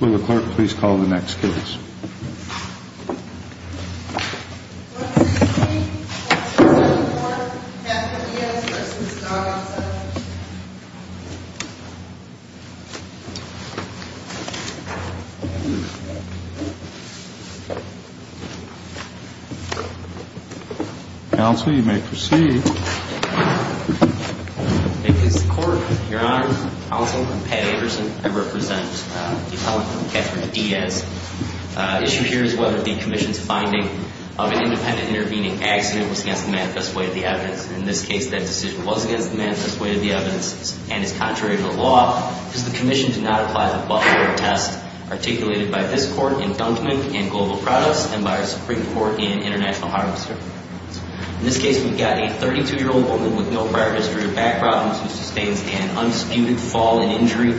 Will the clerk please call the next case? 113-1274, Bethany S. v. Garza Counsel, you may proceed. Thank you, Mr. Court. Your Honor, Counsel, I'm Pat Anderson. I represent the appellant, Catherine Diaz. Issue here is whether the commission's finding of an independent intervening accident was against the manifest way of the evidence. In this case, that decision was against the manifest way of the evidence and is contrary to the law because the commission did not apply the Buffalo test articulated by this court in Dunkin' and Global Products and by our Supreme Court in International Harvester. In this case, we've got a 32-year-old woman with no prior history of back problems who sustains an unsputed fall and injury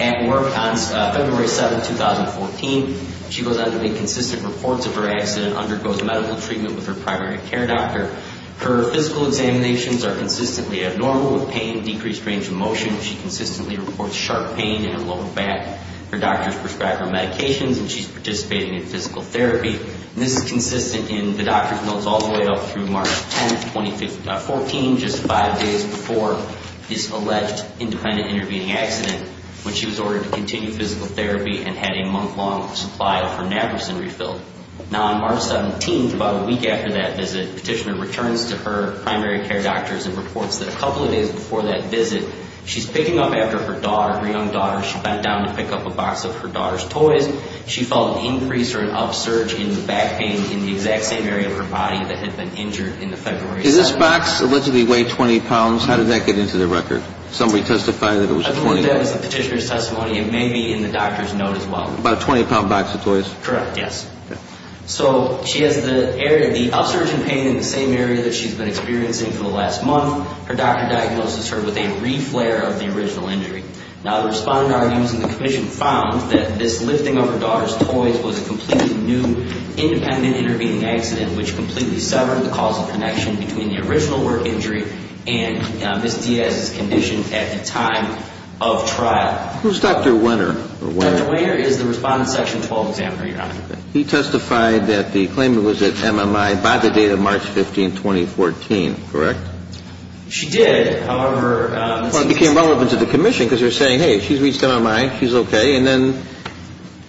at work on February 7, 2014. She goes on to make consistent reports of her accident, undergoes medical treatment with her primary care doctor. Her physical examinations are consistently abnormal with pain, decreased range of motion. She consistently reports sharp pain in her lower back. Her doctors prescribe her medications and she's participating in physical therapy. This is consistent in the doctor's notes all the way up through March 10, 2014, just five days before this alleged independent intervening accident when she was ordered to continue physical therapy and had a month-long supply of her naproxen refilled. Now, on March 17, about a week after that visit, the petitioner returns to her primary care doctors and reports that a couple of days before that visit, she's picking up after her daughter, her young daughter. She bent down to pick up a box of her daughter's toys. She felt an increase or an upsurge in the back pain in the exact same area of her body that had been injured in the February 7th. Did this box allegedly weigh 20 pounds? How did that get into the record? Somebody testified that it was 20. I believe that was the petitioner's testimony. It may be in the doctor's note as well. About a 20-pound box of toys? Correct, yes. So she has the area, the upsurge in pain in the same area that she's been experiencing for the last month. Her doctor diagnoses her with a reflare of the original injury. Now, the respondent argues in the commission found that this lifting of her daughter's toys was a completely new independent intervening accident, which completely severed the causal connection between the original work injury and Ms. Diaz's condition at the time of trial. Who's Dr. Wehner? Dr. Wehner is the respondent's Section 12 examiner, Your Honor. He testified that the claimant was at MMI by the date of March 15, 2014, correct? She did. Well, it became relevant to the commission because they're saying, hey, she's reached MMI, she's okay. And then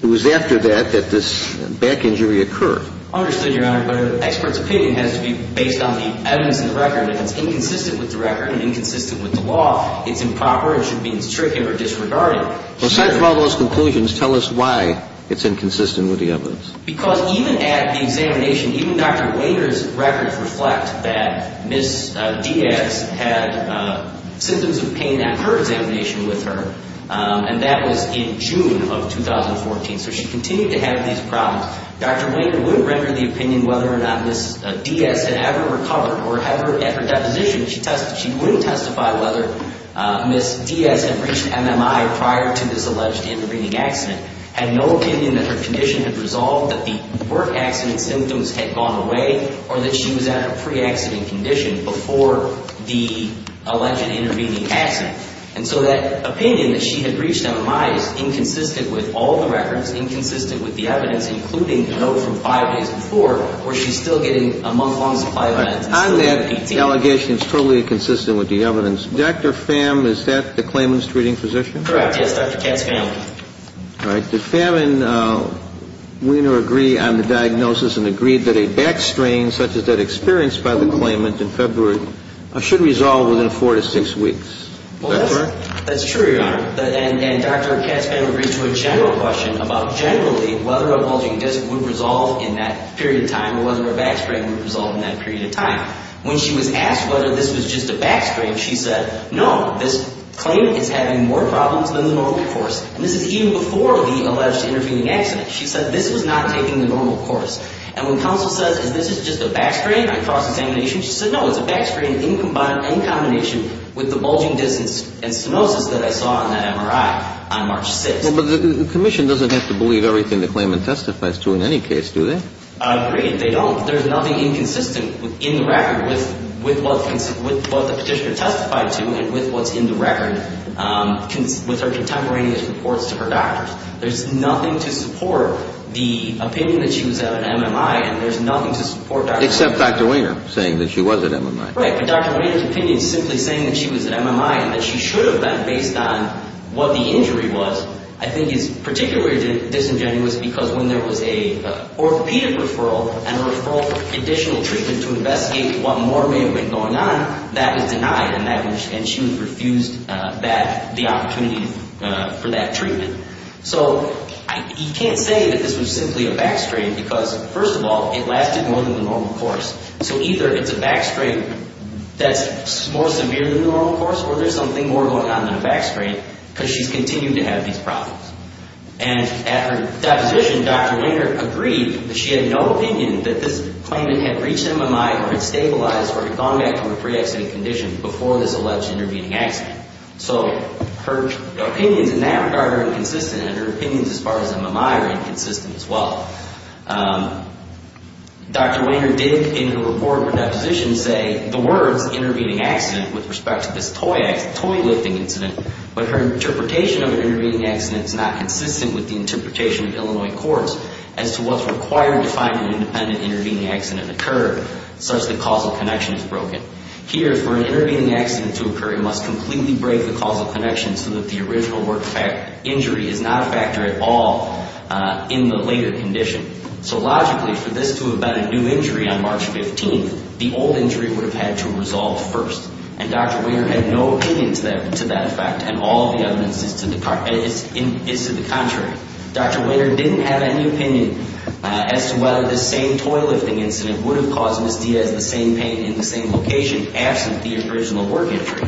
it was after that that this back injury occurred. Understood, Your Honor. But an expert's opinion has to be based on the evidence in the record. If it's inconsistent with the record and inconsistent with the law, it's improper and should be intricate or disregarded. Well, aside from all those conclusions, tell us why it's inconsistent with the evidence. Because even at the examination, even Dr. Wehner's records reflect that Ms. Diaz had symptoms of pain at her examination with her, and that was in June of 2014. So she continued to have these problems. Dr. Wehner wouldn't render the opinion whether or not Ms. Diaz had ever recovered, or at her deposition, she wouldn't testify whether Ms. Diaz had reached MMI prior to this alleged intervening accident, had no opinion that her condition had resolved, that the work accident symptoms had gone away, or that she was at a pre-accident condition before the alleged intervening accident. And so that opinion that she had reached MMI is inconsistent with all the records, inconsistent with the evidence, including the note from five days before where she's still getting a month-long supply of meds. On that, the allegation is totally inconsistent with the evidence. Dr. Pham, is that the claimant's treating physician? Correct, yes, Dr. Katz Pham. All right. Did Pham and Wehner agree on the diagnosis and agreed that a back strain such as that experienced by the claimant in February should resolve within four to six weeks? That's correct. That's true, Your Honor. And Dr. Katz Pham agreed to a general question about generally whether a bulging disc would resolve in that period of time or whether a back strain would resolve in that period of time. When she was asked whether this was just a back strain, she said, no, this claimant is having more problems than the normal course. And this is even before the alleged intervening accident. She said this was not taking the normal course. And when counsel says, is this just a back strain, I cross-examination, she said, no, it's a back strain in combination with the bulging disc and stenosis that I saw in that MRI on March 6th. Well, but the commission doesn't have to believe everything the claimant testifies to in any case, do they? Agreed, they don't. There's nothing inconsistent in the record with what the petitioner testified to and with what's in the record with her contemporaneous reports to her doctors. There's nothing to support the opinion that she was at an MMI, and there's nothing to support Dr. Weiner. Except Dr. Weiner saying that she was at MMI. Right, but Dr. Weiner's opinion simply saying that she was at MMI and that she should have been based on what the injury was I think is particularly disingenuous because when there was an orthopedic referral and a referral for additional treatment to investigate what more may have been going on, that was denied and she was refused the opportunity for that treatment. So you can't say that this was simply a back strain because, first of all, it lasted more than the normal course. So either it's a back strain that's more severe than the normal course, or there's something more going on than a back strain because she's continued to have these problems. And at her deposition, Dr. Weiner agreed that she had no opinion that this claimant had reached MMI or had stabilized or had gone back to her pre-accident condition before this alleged intervening accident. So her opinions in that regard are inconsistent, and her opinions as far as MMI are inconsistent as well. Dr. Weiner did in her report for deposition say the words intervening accident with respect to this toy lifting incident, but her interpretation of an intervening accident is not consistent with the interpretation of Illinois courts as to what's required to find an independent intervening accident occurred, such that causal connection is broken. Here, for an intervening accident to occur, it must completely break the causal connection so that the original injury is not a factor at all in the later condition. So logically, for this to have been a new injury on March 15th, the old injury would have had to resolve first. And Dr. Weiner had no opinion to that effect, and all the evidence is to the contrary. Dr. Weiner didn't have any opinion as to whether this same toy lifting incident would have caused Ms. Diaz the same pain in the same location absent the original work injury.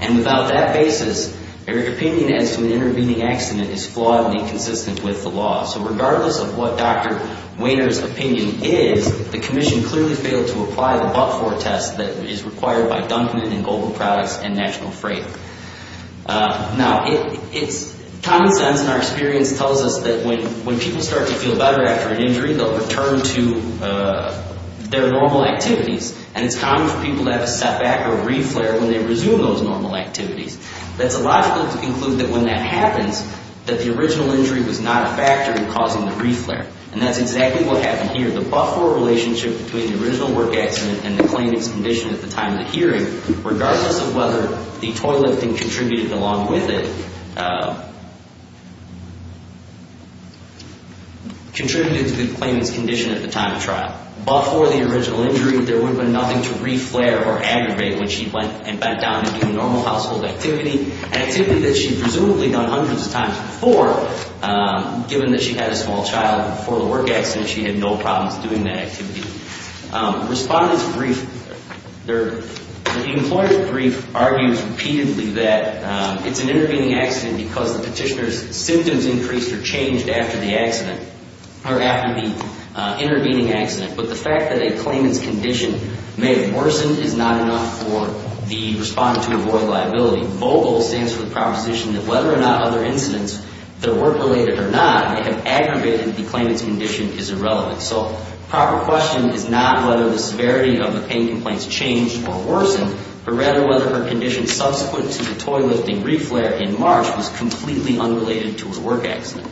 And without that basis, her opinion as to an intervening accident is flawed and inconsistent with the law. So regardless of what Dr. Weiner's opinion is, the commission clearly failed to apply the but-for test that is required by Dunkman and Global Products and National Freight. Now, common sense in our experience tells us that when people start to feel better after an injury, they'll return to their normal activities, and it's common for people to have a setback or a reflare when they resume those normal activities. That's illogical to conclude that when that happens, that the original injury was not a factor in causing the reflare. And that's exactly what happened here. The but-for relationship between the original work accident and the claimant's condition at the time of the hearing, regardless of whether the toy lifting contributed along with it, contributed to the claimant's condition at the time of trial. But for the original injury, there would have been nothing to reflare or aggravate when she went and bent down to do normal household activity, an activity that she presumably done hundreds of times before. Given that she had a small child before the work accident, she had no problems doing that activity. Respondent's brief, the employer's brief argues repeatedly that it's an intervening accident because the petitioner's symptoms increased or changed after the accident, or after the intervening accident. But the fact that a claimant's condition may have worsened is not enough for the respondent to avoid liability. So the VOGAL stands for the proposition that whether or not other incidents that were related or not have aggravated the claimant's condition is irrelevant. So proper question is not whether the severity of the pain complaints changed or worsened, but rather whether her condition subsequent to the toy lifting reflare in March was completely unrelated to her work accident.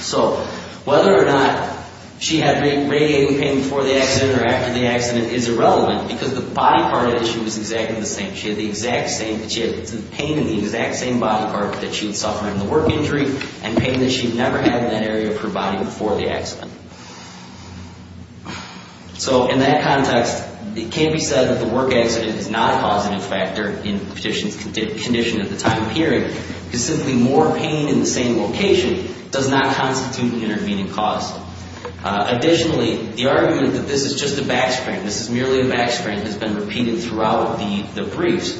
So whether or not she had radiating pain before the accident or after the accident is irrelevant because the body part of the issue is exactly the same. She had the exact same pain in the exact same body part that she had suffered in the work injury and pain that she had never had in that area of her body before the accident. So in that context, it can be said that the work accident is not a causative factor in the petitioner's condition at the time of hearing because simply more pain in the same location does not constitute an intervening cause. Additionally, the argument that this is just a backstrain, this is merely a backstrain, has been repeated throughout the briefs.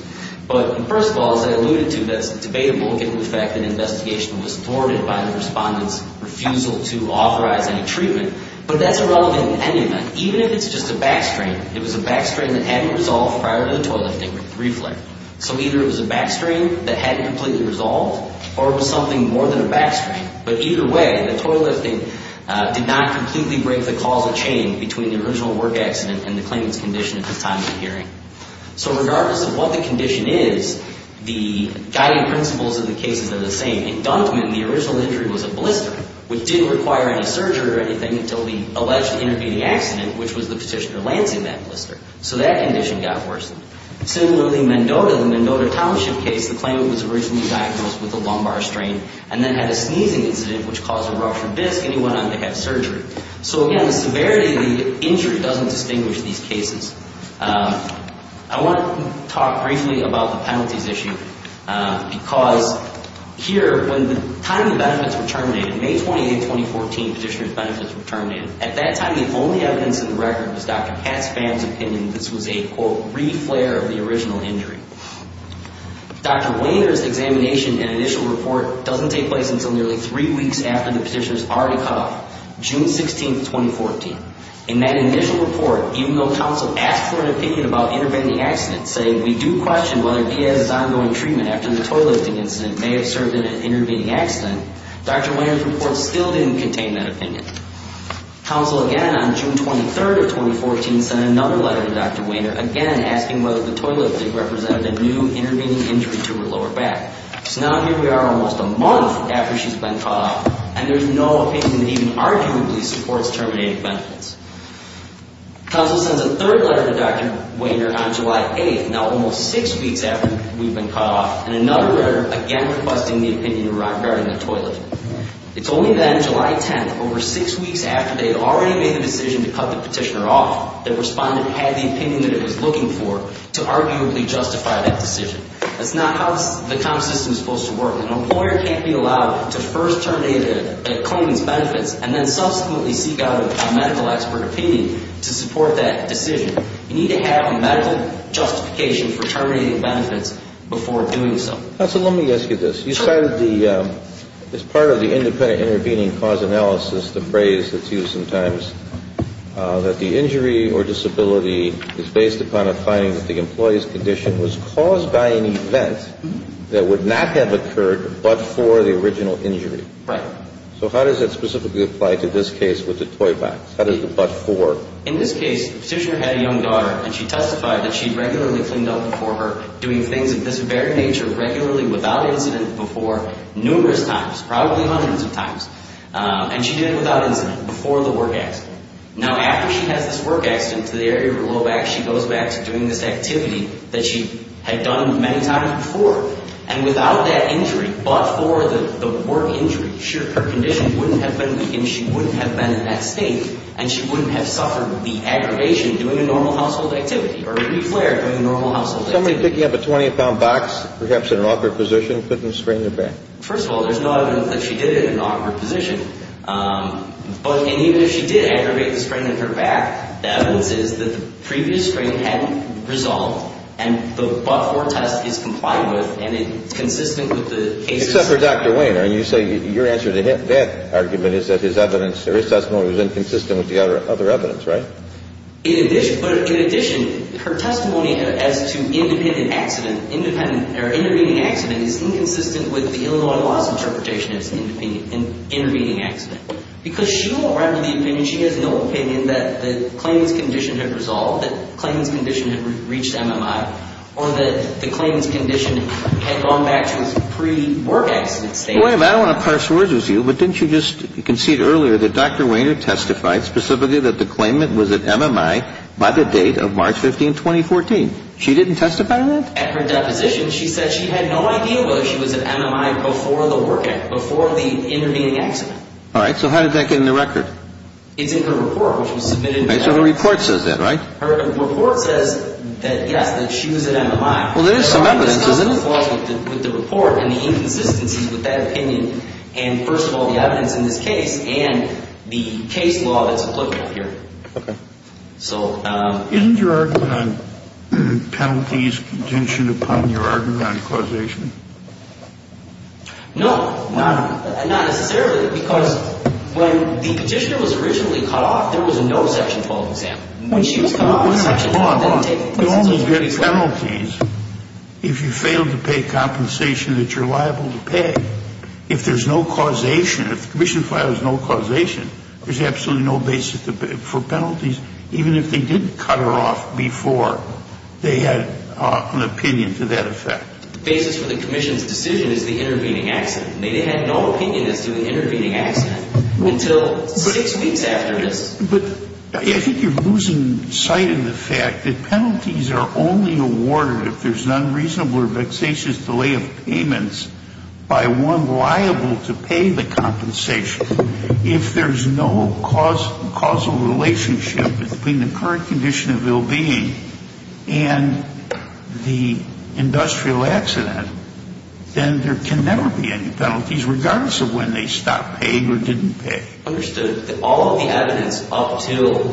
But first of all, as I alluded to, that's debatable given the fact that an investigation was thwarted by the respondent's refusal to authorize any treatment. But that's irrelevant in any event. Even if it's just a backstrain, it was a backstrain that hadn't resolved prior to the toy lifting reflare. So either it was a backstrain that hadn't completely resolved or it was something more than a backstrain. But either way, the toy lifting did not completely break the causal chain between the original work accident and the claimant's condition at the time of the hearing. So regardless of what the condition is, the guiding principles of the cases are the same. Inductment in the original injury was a blister, which didn't require any surgery or anything until the alleged intervening accident, which was the petitioner landing that blister. So that condition got worsened. Similarly, Mendota, the Mendota Township case, the claimant was originally diagnosed with a lumbar strain and then had a sneezing incident, which caused a ruptured disc, and he went on to have surgery. So again, the severity of the injury doesn't distinguish these cases. I want to talk briefly about the penalties issue because here, when the time the benefits were terminated, May 28, 2014, the petitioner's benefits were terminated. At that time, the only evidence in the record was Dr. Katz-Pham's opinion. This was a, quote, re-flare of the original injury. Dr. Wainer's examination and initial report doesn't take place until nearly three weeks after the petitioner's already cut off, June 16, 2014. In that initial report, even though counsel asked for an opinion about intervening accidents, saying we do question whether Diaz's ongoing treatment after the toileting incident may have served in an intervening accident, Dr. Wainer's report still didn't contain that opinion. Counsel again on June 23, 2014, sent another letter to Dr. Wainer, again asking whether the toileting thing represented a new intervening injury to her lower back. So now here we are almost a month after she's been cut off, and there's no opinion that even arguably supports terminating benefits. Counsel sends a third letter to Dr. Wainer on July 8, now almost six weeks after we've been cut off, and another letter again requesting the opinion regarding the toileting. It's only then, July 10, over six weeks after they had already made the decision to cut the petitioner off, that respondent had the opinion that it was looking for to arguably justify that decision. That's not how the comp system is supposed to work. An employer can't be allowed to first terminate a claimant's benefits and then subsequently seek out a medical expert opinion to support that decision. You need to have a medical justification for terminating benefits before doing so. Counsel, let me ask you this. You cited the – as part of the independent intervening cause analysis, the phrase that's used sometimes that the injury or disability is based upon a finding that the employee's condition was caused by an event that would not have occurred but for the original injury. Right. So how does that specifically apply to this case with the toy box? How does the but for? In this case, the petitioner had a young daughter, and she testified that she regularly cleaned up before her, doing things of this very nature regularly without incident before numerous times, probably hundreds of times. And she did it without incident, before the work accident. Now, after she has this work accident to the area of her low back, she goes back to doing this activity that she had done many times before. And without that injury, but for the work injury, her condition wouldn't have been – she wouldn't have been at stake, and she wouldn't have suffered the aggravation doing a normal household activity or any flare doing a normal household activity. Somebody picking up a 20-pound box, perhaps in an awkward position, putting a spring in her back. First of all, there's no evidence that she did it in an awkward position. But even if she did aggravate the spring in her back, the evidence is that the previous spring hadn't resolved, and the but for test is compliant with and consistent with the case. Except for Dr. Wainer. And you say your answer to that argument is that his evidence – or his testimony was inconsistent with the other evidence, right? In addition – but in addition, her testimony as to independent accident – or intervening accident is inconsistent with the Illinois laws interpretation as intervening accident. Because she won't run with the opinion – she has no opinion that the claimant's condition had resolved, that the claimant's condition had reached MMI, or that the claimant's condition had gone back to its pre-work accident state. Wait a minute. I don't want to parse words with you, but didn't you just concede earlier that Dr. Wainer testified specifically that the claimant was at MMI by the date of March 15, 2014? She didn't testify to that? At her deposition, she said she had no idea whether she was at MMI before the work accident, before the intervening accident. All right. So how did that get in the record? It's in her report, which was submitted – Okay. So her report says that, right? Her report says that, yes, that she was at MMI. Well, there is some evidence, isn't there? So I'm just not going to fall with the report and the inconsistencies with that opinion. And first of all, the evidence in this case and the case law that's applicable here. Okay. Isn't your argument on penalties contingent upon your argument on causation? No. Not necessarily, because when the petitioner was originally cut off, there was no Section 12 exam. When she was cut off, Section 12 didn't take place. You only get penalties if you fail to pay compensation that you're liable to pay. If there's no causation, if the commission files no causation, there's absolutely no basis for penalties, even if they did cut her off before they had an opinion to that effect. The basis for the commission's decision is the intervening accident. They had no opinion as to the intervening accident until six weeks after this. But I think you're losing sight of the fact that penalties are only awarded if there's an unreasonable or vexatious delay of payments by one liable to pay the compensation. If there's no causal relationship between the current condition of ill-being and the industrial accident, then there can never be any penalties, regardless of when they stopped paying or didn't pay. Understood. All of the evidence up until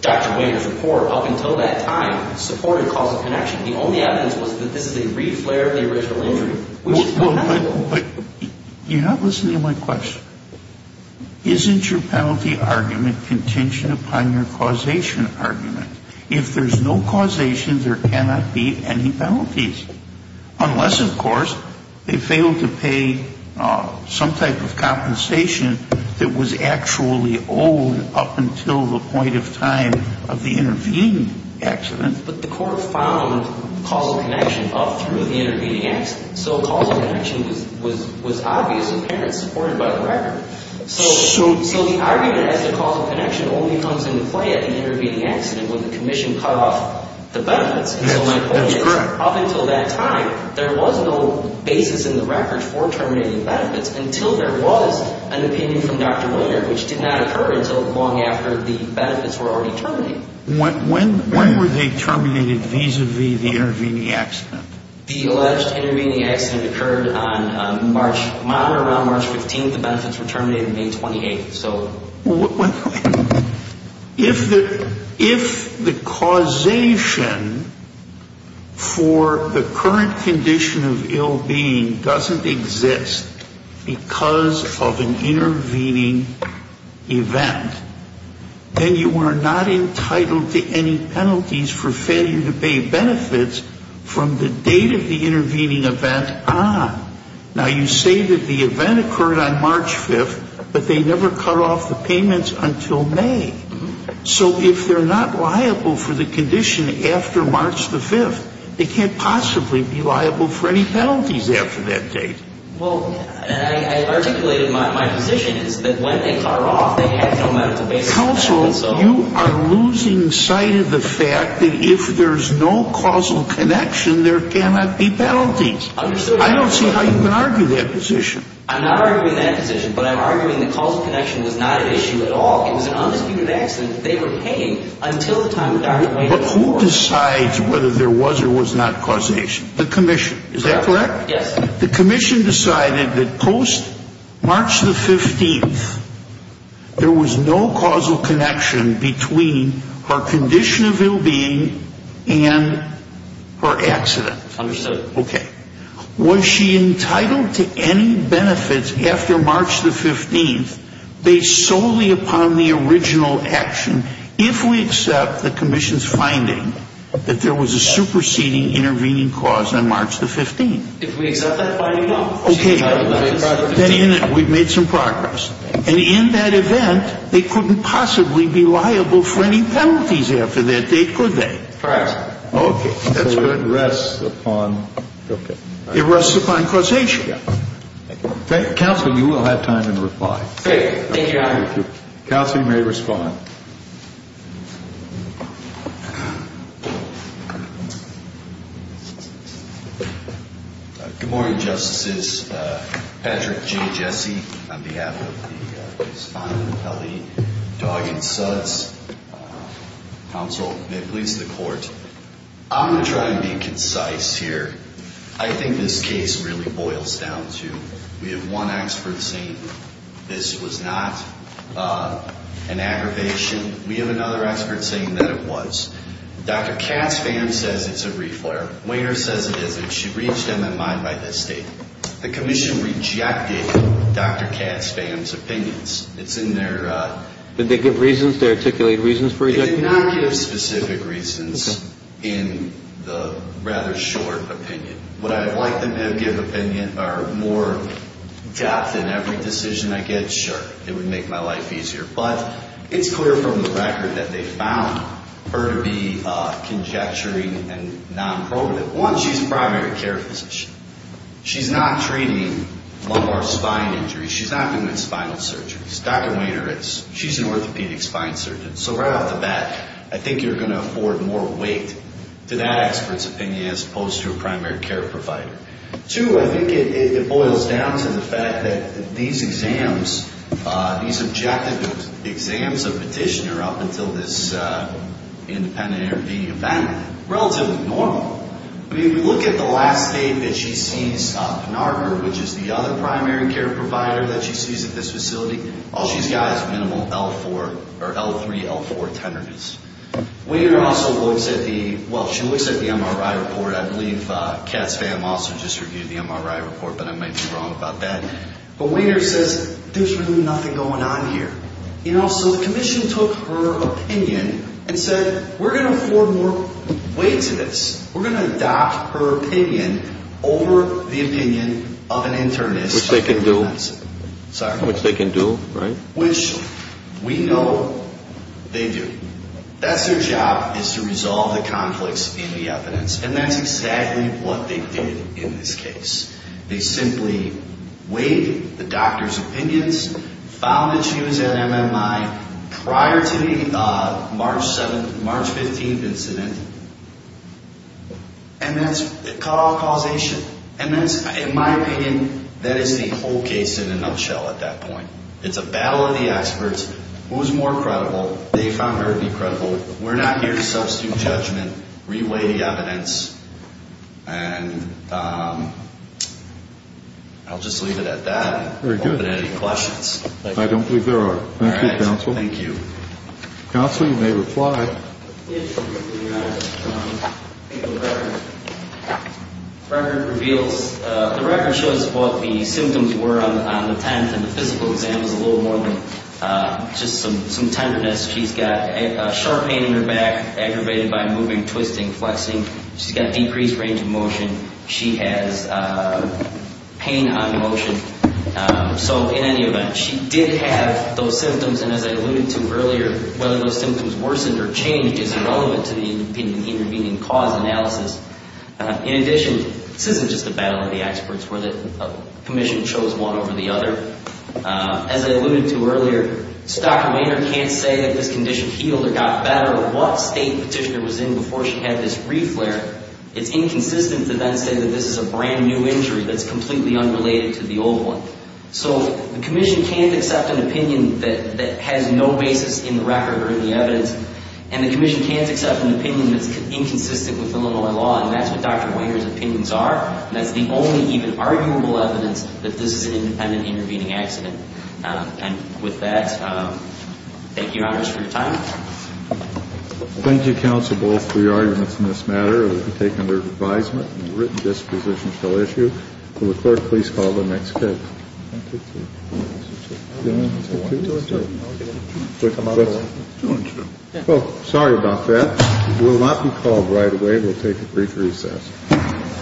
Dr. Wainer's report, up until that time, supported causal connection. The only evidence was that this is a reflare of the original injury. But you're not listening to my question. Isn't your penalty argument contingent upon your causation argument? If there's no causation, there cannot be any penalties, unless, of course, they failed to pay some type of compensation that was actually owed up until the point of time of the intervening accident. But the court found causal connection up through the intervening accident, so causal connection was obvious and apparently supported by the record. So the argument as to causal connection only comes into play at the intervening accident when the commission cut off the benefits. That's correct. Up until that time, there was no basis in the record for terminating benefits until there was an opinion from Dr. Wainer, which did not occur until long after the benefits were already terminated. When were they terminated vis-a-vis the intervening accident? The alleged intervening accident occurred on March, around March 15th. The benefits were terminated May 28th. If the causation for the current condition of ill-being doesn't exist because of an intervening event, then you are not entitled to any penalties for failure to pay benefits from the date of the intervening event on. Now, you say that the event occurred on March 5th, but they never cut off the payments until May. So if they're not liable for the condition after March the 5th, they can't possibly be liable for any penalties after that date. Well, and I articulated my position is that when they cut it off, they had no medical basis. Counsel, you are losing sight of the fact that if there's no causal connection, there cannot be penalties. I don't see how you can argue that position. I'm not arguing that position, but I'm arguing that causal connection was not an issue at all. It was an undisputed accident. They were paying until the time of Dr. Wainer's death. But who decides whether there was or was not causation? The commission. Is that correct? Yes. The commission decided that post-March the 15th, there was no causal connection between her condition of ill-being and her accident. Understood. Okay. Was she entitled to any benefits after March the 15th based solely upon the original action, if we accept the commission's finding that there was a superseding intervening cause on March the 15th? If we accept that finding, no. Okay. Then we've made some progress. And in that event, they couldn't possibly be liable for any penalties after that date, could they? Correct. Okay. That's good. Okay. Thank you. Counsel, you will have time to reply. Okay. Thank you, Your Honor. Counsel, you may respond. Good morning, Justices. Patrick G. Jesse, on behalf of the respondent, Kelly Dawgan Suds. Counsel, may it please the Court. I'm going to try and be concise here. I think this case really boils down to we have one expert saying this was not an aggravation. We have another expert saying that it was. Dr. Katzfam says it's a reflare. Wainer says it isn't. She reached MMI by this date. The commission rejected Dr. Katzfam's opinions. It's in their – Did they give reasons? Did they articulate reasons for rejecting? They did not give specific reasons in the rather short opinion. Would I have liked them to have given more depth in every decision I get? Sure. It would make my life easier. But it's clear from the record that they found her to be conjecturing and non-progative. One, she's a primary care physician. She's not treating lumbar spine injuries. She's not doing spinal surgeries. Dr. Wainer is. She's an orthopedic spine surgeon. So right off the bat, I think you're going to afford more weight to that expert's opinion as opposed to a primary care provider. Two, I think it boils down to the fact that these exams, these objective exams of petitioner up until this independent interview event, relatively normal. I mean, if you look at the last date that she sees Pnarker, which is the other primary care provider that she sees at this facility, all she's got is minimal L3, L4 tenderness. Wainer also looks at the MRI report. I believe Katz Pham also just reviewed the MRI report, but I might be wrong about that. But Wainer says, there's really nothing going on here. So the commission took her opinion and said, we're going to afford more weight to this. We're going to adopt her opinion over the opinion of an internist. Which they can do. Sorry? Which they can do, right? Which we know they do. That's their job, is to resolve the conflicts in the evidence. And that's exactly what they did in this case. They simply weighed the doctor's opinions, found that she was at MMI prior to the March 7th, March 15th incident, and that's a causation. In my opinion, that is the whole case in a nutshell at that point. It's a battle of the experts. Who's more credible? They found her to be credible. We're not here to substitute judgment, re-weigh the evidence. And I'll just leave it at that. Very good. If you have any questions. I don't believe there are. Thank you, counsel. Thank you. Counsel, you may reply. Yes, Your Honor. I think the record reveals, the record shows what the symptoms were on the 10th. And the physical exam is a little more than just some tenderness. She's got a sharp pain in her back, aggravated by moving, twisting, flexing. She's got decreased range of motion. She has pain on motion. So, in any event, she did have those symptoms. And as I alluded to earlier, whether those symptoms worsened or changed is irrelevant to the intervening cause analysis. In addition, this isn't just a battle of the experts, where the commission chose one over the other. As I alluded to earlier, Stock and Maynard can't say that this condition healed or got better, or what state petitioner was in before she had this reflare. It's inconsistent to then say that this is a brand new injury that's completely unrelated to the old one. So, the commission can't accept an opinion that has no basis in the record or in the evidence. And the commission can't accept an opinion that's inconsistent with Illinois law. And that's what Dr. Whitehurst's opinions are. And that's the only even arguable evidence that this is an independent intervening accident. And with that, thank you, Your Honor, for your time. Thank you, counsel, both for your arguments in this matter. It will be taken under advisement. The written disposition shall issue. Will the clerk please call the next case. One, two, three. One, two, three. One, two, three. One, two, three. Should I come out of the way? Why don't you? Well, sorry about that. We'll not be called right away. We'll take a brief recess.